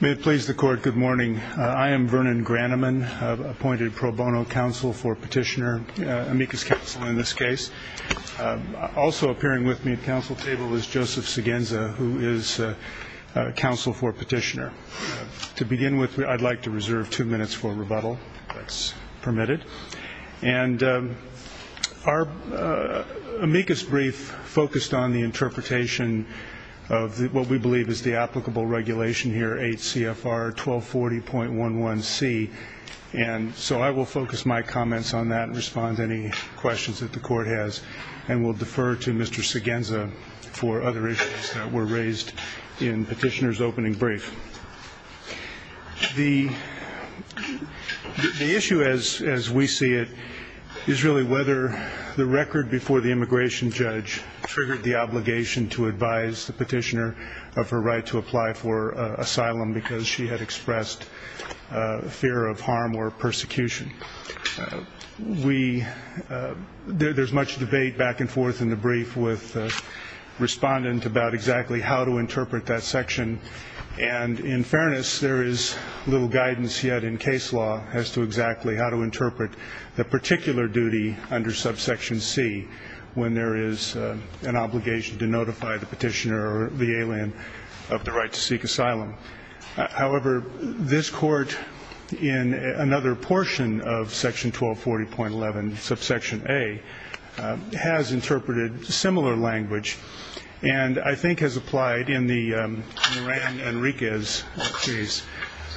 May it please the court, good morning. I am Vernon Graneman, appointed pro bono counsel for petitioner, amicus counsel in this case. Also appearing with me at counsel table is Joseph Segenza, who is counsel for petitioner. To begin with, I'd like to reserve two minutes for rebuttal, if that's permitted. And our amicus brief focused on the interpretation of what we believe is the applicable regulation here, 8 CFR 1240.11C. And so I will focus my comments on that and respond to any questions that the court has. And we'll defer to Mr. Segenza for other issues that were raised in petitioner's opening brief. The issue as we see it is really whether the record before the immigration judge triggered the obligation to advise the petitioner of her right to apply for asylum because she had expressed fear of harm or persecution. We, there's much debate back and forth in the brief with respondent about exactly how to interpret that section. And in fairness, there is little guidance yet in case law as to exactly how to interpret the particular duty under subsection C when there is an obligation to notify the petitioner or the alien of the right to seek asylum. However, this court in another portion of section 1240.11 subsection A has interpreted similar language and I think has applied in the Ran Enriquez case,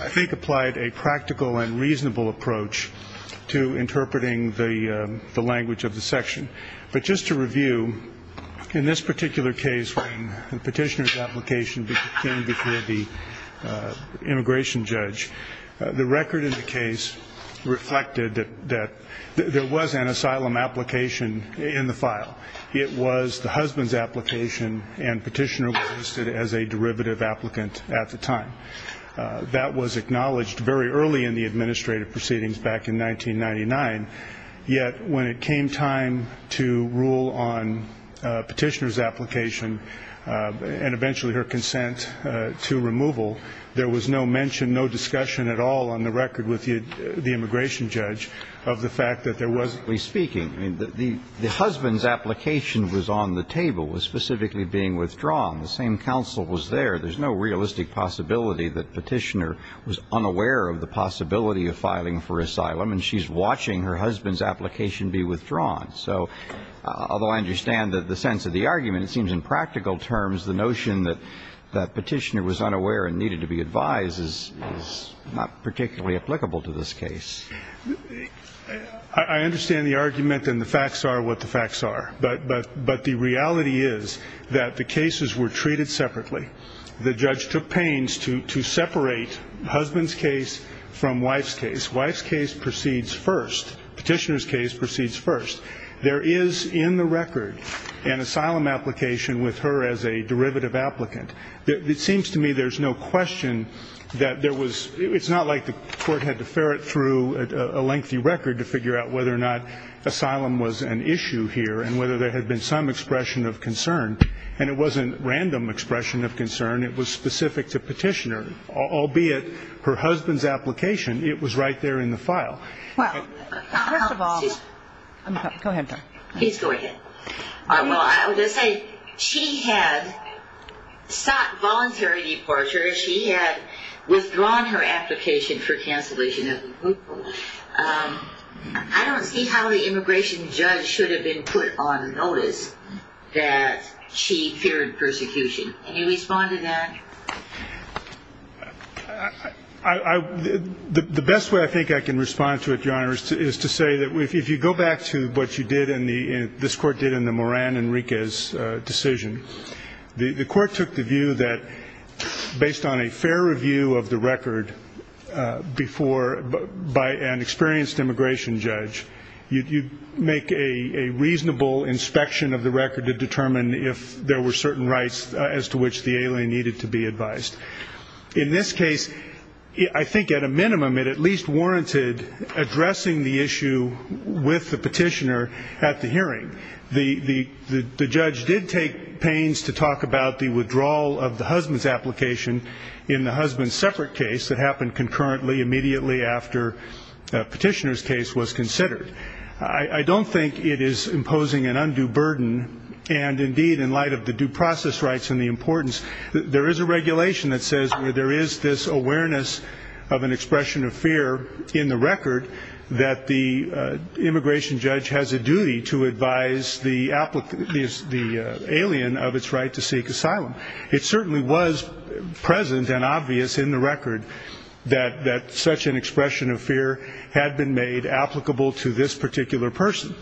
I think applied a practical and reasonable approach to interpreting the language of the section. But just to review, in this particular case when the petitioner's application came before the immigration judge, the record in the case reflected that there was an asylum application in the file. It was the husband's application and petitioner was listed as a derivative applicant at the time. That was acknowledged very early in the administrative proceedings back in 1999. Yet when it came time to rule on petitioner's application and eventually her consent to removal, there was no mention, no discussion at all on the record with the immigration judge of the fact that there was. So basically speaking, the husband's application was on the table, was specifically being withdrawn. The same counsel was there. There's no realistic possibility that petitioner was unaware of the possibility of filing for asylum and she's watching her husband's application be withdrawn. So although I understand the sense of the argument, it seems in practical terms the notion that petitioner was unaware and needed to be advised is not particularly applicable to this case. I understand the argument and the facts are what the facts are. But the reality is that the cases were treated separately. The judge took pains to separate husband's case from wife's case. Wife's case proceeds first. Petitioner's case proceeds first. There is in the record an asylum application with her as a derivative applicant. It seems to me there's no question that there was, it's not like the court had to ferret through a lengthy record to figure out whether or not asylum was an issue here and whether there had been some expression of concern. And it wasn't random expression of concern. It was specific to petitioner, albeit her husband's application. It was right there in the file. First of all, she had sought voluntary deportation. She had withdrawn her application for cancellation. I don't see how the immigration judge should have been put on notice that she feared persecution. Can you respond to that? The best way I think I can respond to it, Your Honor, is to say that if you go back to what you did and this court did in the Moran and Enriquez decision, the court took the view that based on a fair review of the record before, by an experienced immigration judge, you make a reasonable inspection of the record to determine if there were certain rights as to which the alien needed to be advised. In this case, I think at a minimum it at least warranted addressing the issue with the petitioner at the hearing. The judge did take pains to talk about the withdrawal of the husband's application in the husband's separate case that happened concurrently immediately after the petitioner's case was considered. I don't think it is imposing an undue burden, and indeed in light of the due process rights and the importance, there is a regulation that says there is this awareness of an expression of fear in the record that the immigration judge has a duty to advise the alien of its right to seek asylum. It certainly was present and obvious in the record that such an expression of fear had been made applicable to this particular person.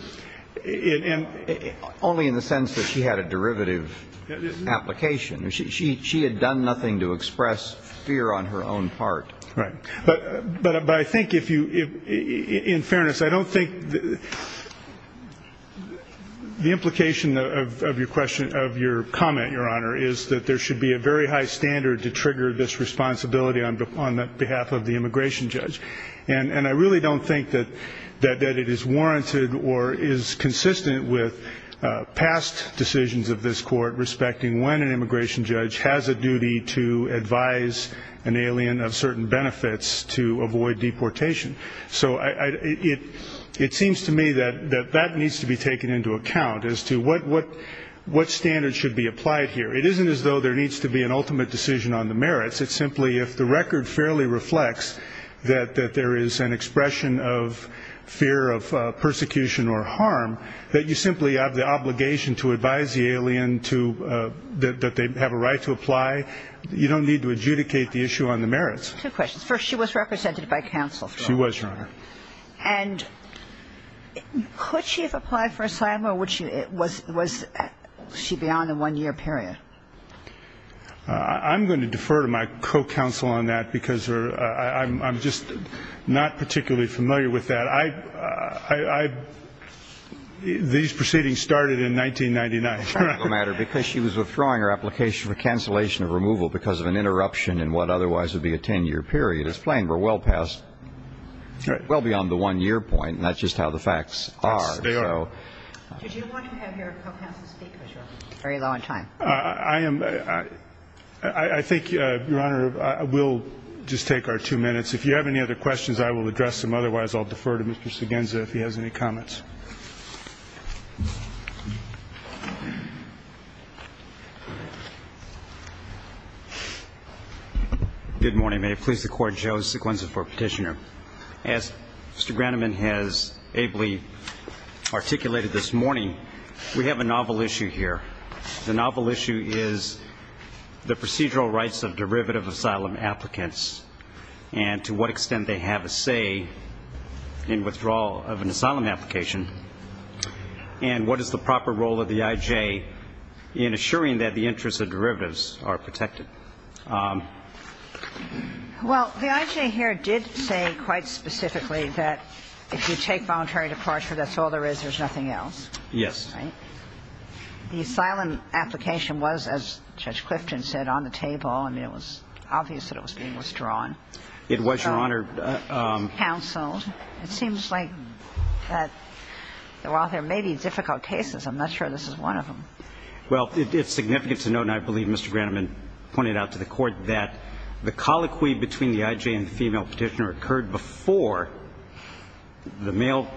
Only in the sense that she had a derivative application. She had done nothing to express fear on her own part. In fairness, I don't think the implication of your comment, Your Honor, is that there should be a very high standard to trigger this responsibility on behalf of the immigration judge. And I really don't think that it is warranted or is consistent with past decisions of this Court respecting when an immigration judge has a duty to advise an alien of certain benefits to avoid deportation. So it seems to me that that needs to be taken into account as to what standards should be applied here. It isn't as though there needs to be an ultimate decision on the merits. It's simply if the record fairly reflects that there is an expression of fear of persecution or harm, that you simply have the obligation to advise the alien that they have a right to apply. You don't need to adjudicate the issue on the merits. Two questions. First, she was represented by counsel. She was, Your Honor. And could she have applied for asylum or was she beyond a one-year period? I'm going to defer to my co-counsel on that because I'm just not particularly familiar with that. These proceedings started in 1999. It's a practical matter because she was withdrawing her application for cancellation of removal because of an interruption in what otherwise would be a 10-year period. It's plain we're well past, well beyond the one-year point, and that's just how the facts are. Yes, they are. Did you want to have your co-counsel speak? Very low on time. I think, Your Honor, we'll just take our two minutes. If you have any other questions, I will address them. Good morning. May it please the Court, Joe Sequenza for petitioner. As Mr. Groneman has ably articulated this morning, we have a novel issue here. The novel issue is the procedural rights of derivative asylum applicants and to what extent they have a say in withdrawal of an asylum application and what is the proper role of the I.J. in assuring that the interests of derivatives are protected. Well, the I.J. here did say quite specifically that if you take voluntary departure, that's all there is. There's nothing else. Yes. Right? The asylum application was, as Judge Clifton said, on the table. I mean, it was obvious that it was being withdrawn. It was, Your Honor. Counseled. It seems like that while there may be difficult cases, I'm not sure this is one of them. Well, it's significant to note, and I believe Mr. Groneman pointed out to the Court, that the colloquy between the I.J. and the female petitioner occurred before the male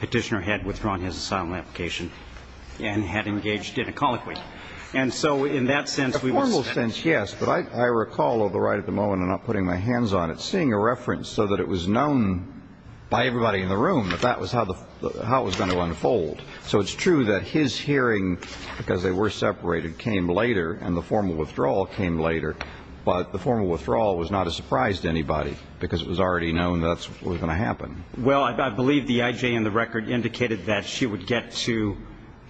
petitioner had withdrawn his asylum application and had engaged in a colloquy. And so in that sense, we would say that. A formal sense, yes. But I recall, although right at the moment I'm not putting my hands on it, I'm seeing a reference so that it was known by everybody in the room that that was how it was going to unfold. So it's true that his hearing, because they were separated, came later and the formal withdrawal came later. But the formal withdrawal was not a surprise to anybody because it was already known that's what was going to happen. Well, I believe the I.J. in the record indicated that she would get to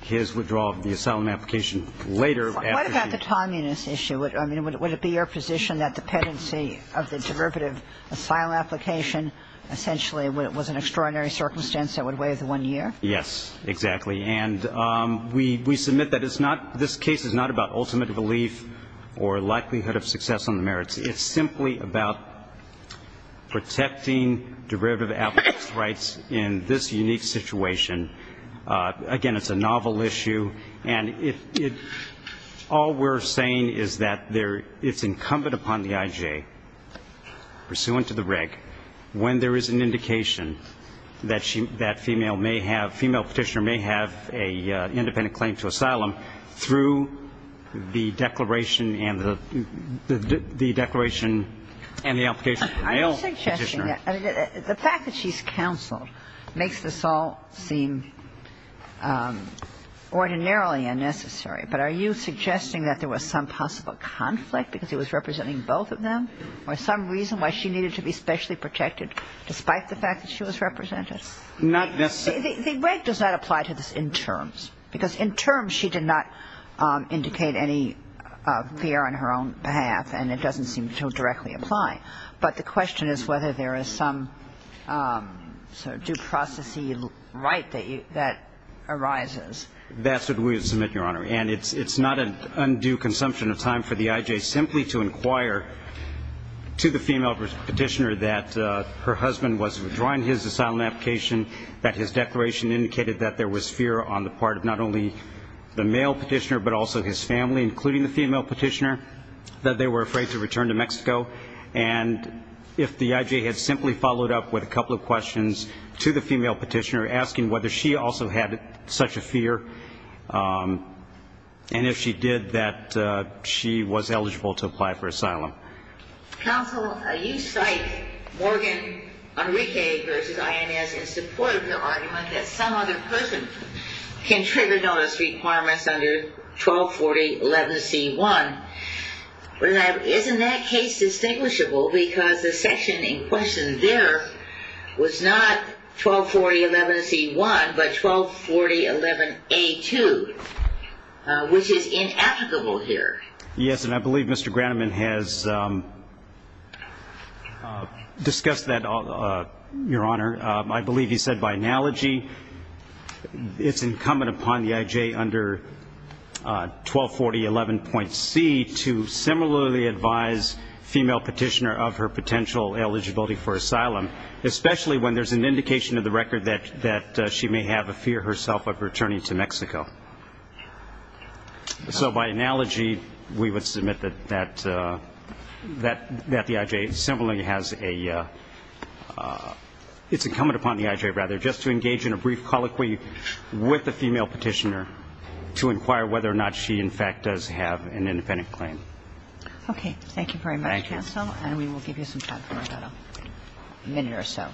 his withdrawal of the asylum application later. What about the timeliness issue? I mean, would it be your position that the pendency of the derivative asylum application essentially was an extraordinary circumstance that would weigh the one year? Yes, exactly. And we submit that it's not – this case is not about ultimate relief or likelihood of success on the merits. It's simply about protecting derivative applicants' rights in this unique situation. Again, it's a novel issue. And if – all we're saying is that there – it's incumbent upon the I.J., pursuant to the reg, when there is an indication that she – that female may have – female Petitioner may have an independent claim to asylum through the declaration and the – the declaration and the application for male Petitioner. The fact that she's counseled makes this all seem ordinarily unnecessary. But are you suggesting that there was some possible conflict because it was representing both of them or some reason why she needed to be specially protected despite the fact that she was represented? Not necessarily. The reg does not apply to this in terms because in terms she did not indicate any fear on her own behalf and it doesn't seem to directly apply. But the question is whether there is some sort of due process-y right that arises. That's what we would submit, Your Honor. And it's not an undue consumption of time for the I.J. simply to inquire to the female Petitioner that her husband was withdrawing his asylum application, that his declaration indicated that there was fear on the part of not only the male Petitioner but also his family, including the female Petitioner, that they were afraid to return to Mexico. And if the I.J. had simply followed up with a couple of questions to the female Petitioner asking whether she also had such a fear, and if she did, that she was eligible to apply for asylum. Counsel, you cite Morgan, Enrique v. INS in support of the argument that some other person can trigger notice requirements under 124011C1. Isn't that case distinguishable? Because the section in question there was not 124011C1 but 124011A2, which is inapplicable here. Yes, and I believe Mr. Groneman has discussed that, Your Honor. I believe he said by analogy it's incumbent upon the I.J. under 124011.C to similarly advise female Petitioner of her potential eligibility for asylum, especially when there's an indication in the record that she may have a fear herself of returning to Mexico. So by analogy, we would submit that the I.J. similarly has a ‑‑ it's incumbent upon the I.J., rather, just to engage in a brief colloquy with the female Petitioner to inquire whether or not she, in fact, does have an independent claim. Okay. Thank you very much, Counsel. Thank you. And we will give you some time for that, a minute or so.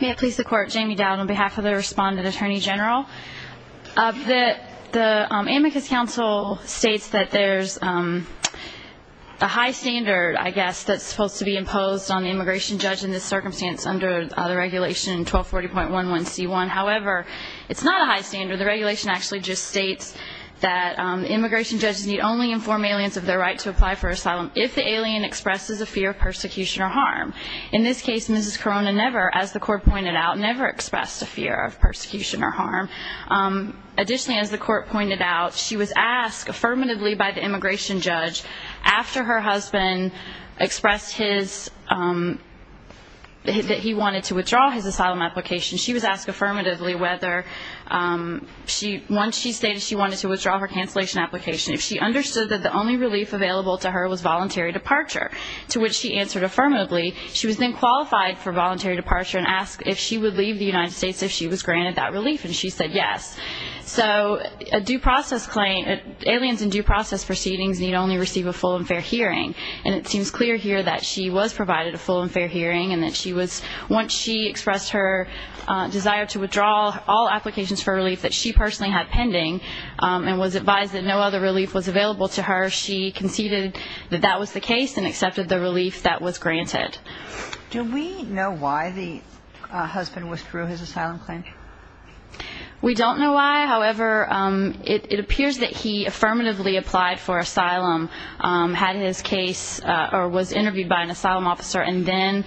May it please the Court. Jamie Dowd on behalf of the Respondent Attorney General. The Amicus Council states that there's a high standard, I guess, that's supposed to be imposed on the immigration judge in this circumstance under the regulation 124011C1. However, it's not a high standard. The regulation actually just states that immigration judges need only inform aliens of their right to apply for asylum if the alien expresses a fear of persecution or harm. In this case, Mrs. Corona never, as the Court pointed out, never expressed a fear of persecution or harm. Additionally, as the Court pointed out, she was asked affirmatively by the immigration judge, after her husband expressed his ‑‑ that he wanted to withdraw his asylum application, she was asked affirmatively whether, once she stated she wanted to withdraw her cancellation application, if she understood that the only relief available to her was voluntary departure, to which she answered affirmatively, she was then qualified for voluntary departure and asked if she would leave the United States if she was granted that relief, and she said yes. So a due process claim, aliens in due process proceedings need only receive a full and fair hearing. And it seems clear here that she was provided a full and fair hearing and that she was, once she expressed her desire to withdraw all applications for relief that she personally had pending and was advised that no other relief was available to her, she conceded that that was the case and accepted the relief that was granted. Do we know why the husband withdrew his asylum claim? We don't know why. However, it appears that he affirmatively applied for asylum, had his case, or was interviewed by an asylum officer, and then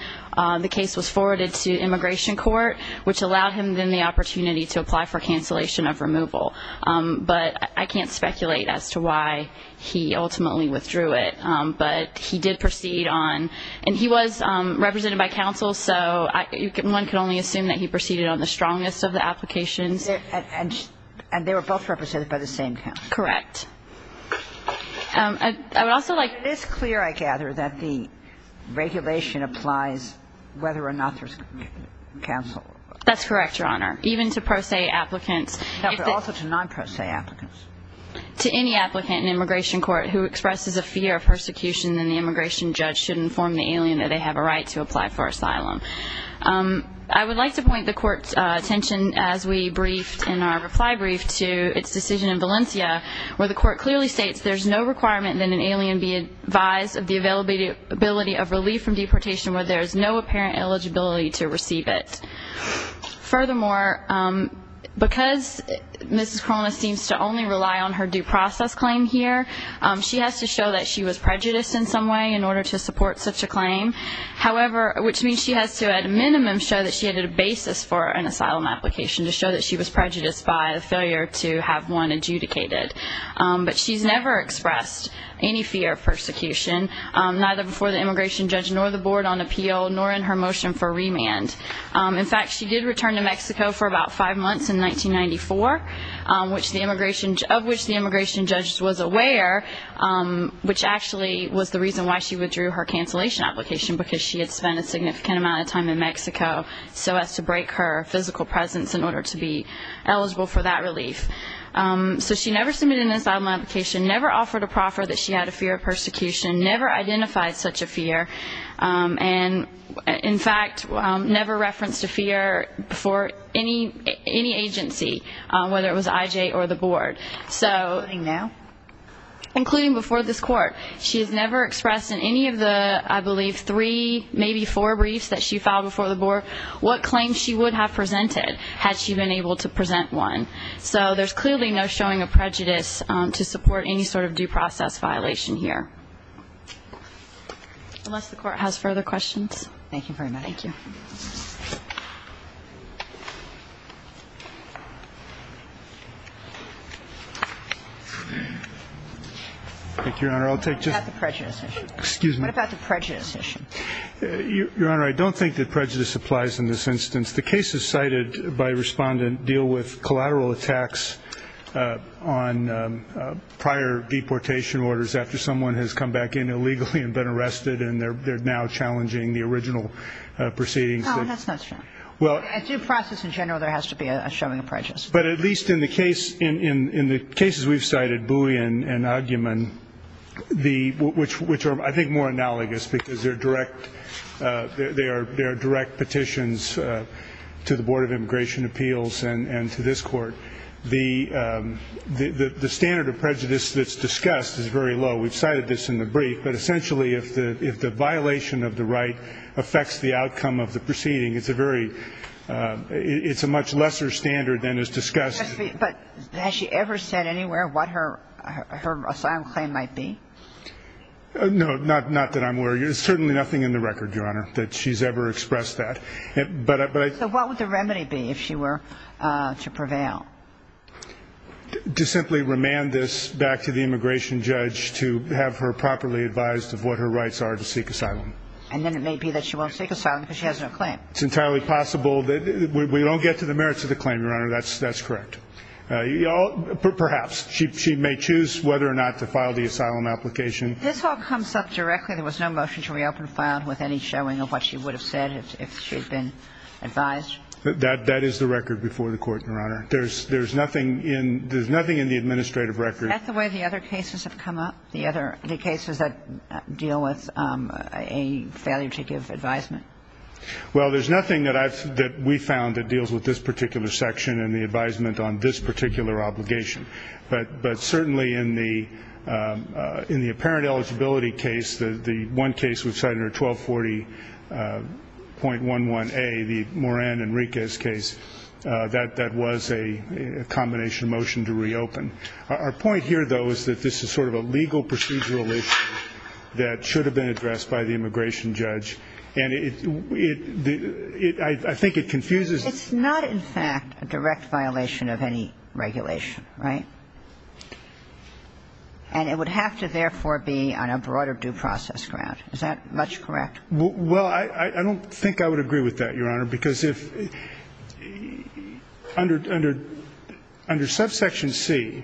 the case was forwarded to immigration court, which allowed him then the opportunity to apply for cancellation of removal. But I can't speculate as to why he ultimately withdrew it. But he did proceed on – and he was represented by counsel, so one can only assume that he proceeded on the strongest of the applications. And they were both represented by the same counsel. Correct. I would also like to – But it is clear, I gather, that the regulation applies whether or not there's counsel. That's correct, Your Honor. Even to pro se applicants. But also to non pro se applicants. To any applicant in immigration court who expresses a fear of persecution and the immigration judge should inform the alien that they have a right to apply for asylum. I would like to point the Court's attention as we briefed in our reply brief to its decision in Valencia where the Court clearly states, there's no requirement that an alien be advised of the availability of relief from deportation where there is no apparent eligibility to receive it. Furthermore, because Mrs. Corona seems to only rely on her due process claim here, she has to show that she was prejudiced in some way in order to support such a claim. However, which means she has to, at a minimum, show that she had a basis for an asylum application to show that she was prejudiced by a failure to have one adjudicated. But she's never expressed any fear of persecution, neither before the immigration judge nor the board on appeal nor in her motion for remand. In fact, she did return to Mexico for about five months in 1994, of which the immigration judge was aware, which actually was the reason why she withdrew her cancellation application because she had spent a significant amount of time in Mexico so as to break her physical presence in order to be eligible for that relief. So she never submitted an asylum application, never offered a proffer that she had a fear of persecution, never identified such a fear, and in fact never referenced a fear before any agency, whether it was IJ or the board. Including before this Court. She has never expressed in any of the, I believe, three, maybe four briefs that she filed before the board what claims she would have presented had she been able to present one. So there's clearly no showing of prejudice to support any sort of due process violation here. Unless the Court has further questions. Thank you very much. Thank you. Thank you, Your Honor. What about the prejudice issue? Excuse me. What about the prejudice issue? Your Honor, I don't think that prejudice applies in this instance. The cases cited by Respondent deal with collateral attacks on prior deportation orders after someone has come back in illegally and been arrested and they're now challenging the original proceedings. No, that's not true. As due process in general, there has to be a showing of prejudice. But at least in the case, in the cases we've cited, which are, I think, more analogous because they're direct, they are direct petitions to the Board of Immigration Appeals and to this Court. The standard of prejudice that's discussed is very low. We've cited this in the brief, but essentially if the violation of the right affects the outcome of the proceeding, it's a very, it's a much lesser standard than is discussed. But has she ever said anywhere what her asylum claim might be? No, not that I'm aware of. There's certainly nothing in the record, Your Honor, that she's ever expressed that. So what would the remedy be if she were to prevail? To simply remand this back to the immigration judge to have her properly advised of what her rights are to seek asylum. And then it may be that she won't seek asylum because she has no claim. It's entirely possible that we don't get to the merits of the claim, Your Honor. That's correct. Perhaps. She may choose whether or not to file the asylum application. This all comes up directly. There was no motion to reopen filed with any showing of what she would have said if she had been advised. That is the record before the Court, Your Honor. There's nothing in the administrative record. Is that the way the other cases have come up, the cases that deal with a failure to give advisement? Well, there's nothing that we found that deals with this particular section and the advisement on this particular obligation. But certainly in the apparent eligibility case, the one case with Senator 1240.11a, the Moran and Enriquez case, that was a combination motion to reopen. Our point here, though, is that this is sort of a legal procedural issue that should have been addressed by the immigration judge. And I think it confuses. It's not, in fact, a direct violation of any regulation, right? And it would have to, therefore, be on a broader due process ground. Is that much correct? Well, I don't think I would agree with that, Your Honor, because under subsection C,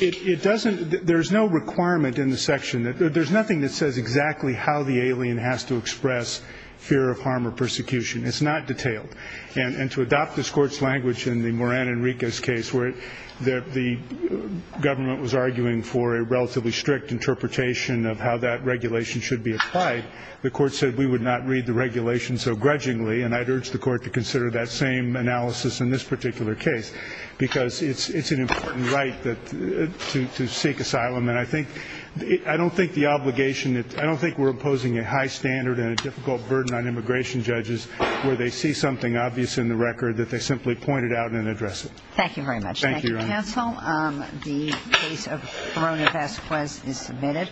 there's no requirement in the section. There's nothing that says exactly how the alien has to express fear of harm or persecution. It's not detailed. And to adopt this Court's language in the Moran and Enriquez case, where the government was arguing for a relatively strict interpretation of how that regulation should be applied, the Court said we would not read the regulation so grudgingly. And I'd urge the Court to consider that same analysis in this particular case because it's an important right to seek asylum. And I don't think we're imposing a high standard and a difficult burden on immigration judges where they see something obvious in the record that they simply point it out and address it. Thank you very much. Thank you, Your Honor. Thank you, counsel. The case of Moran and Enriquez is submitted.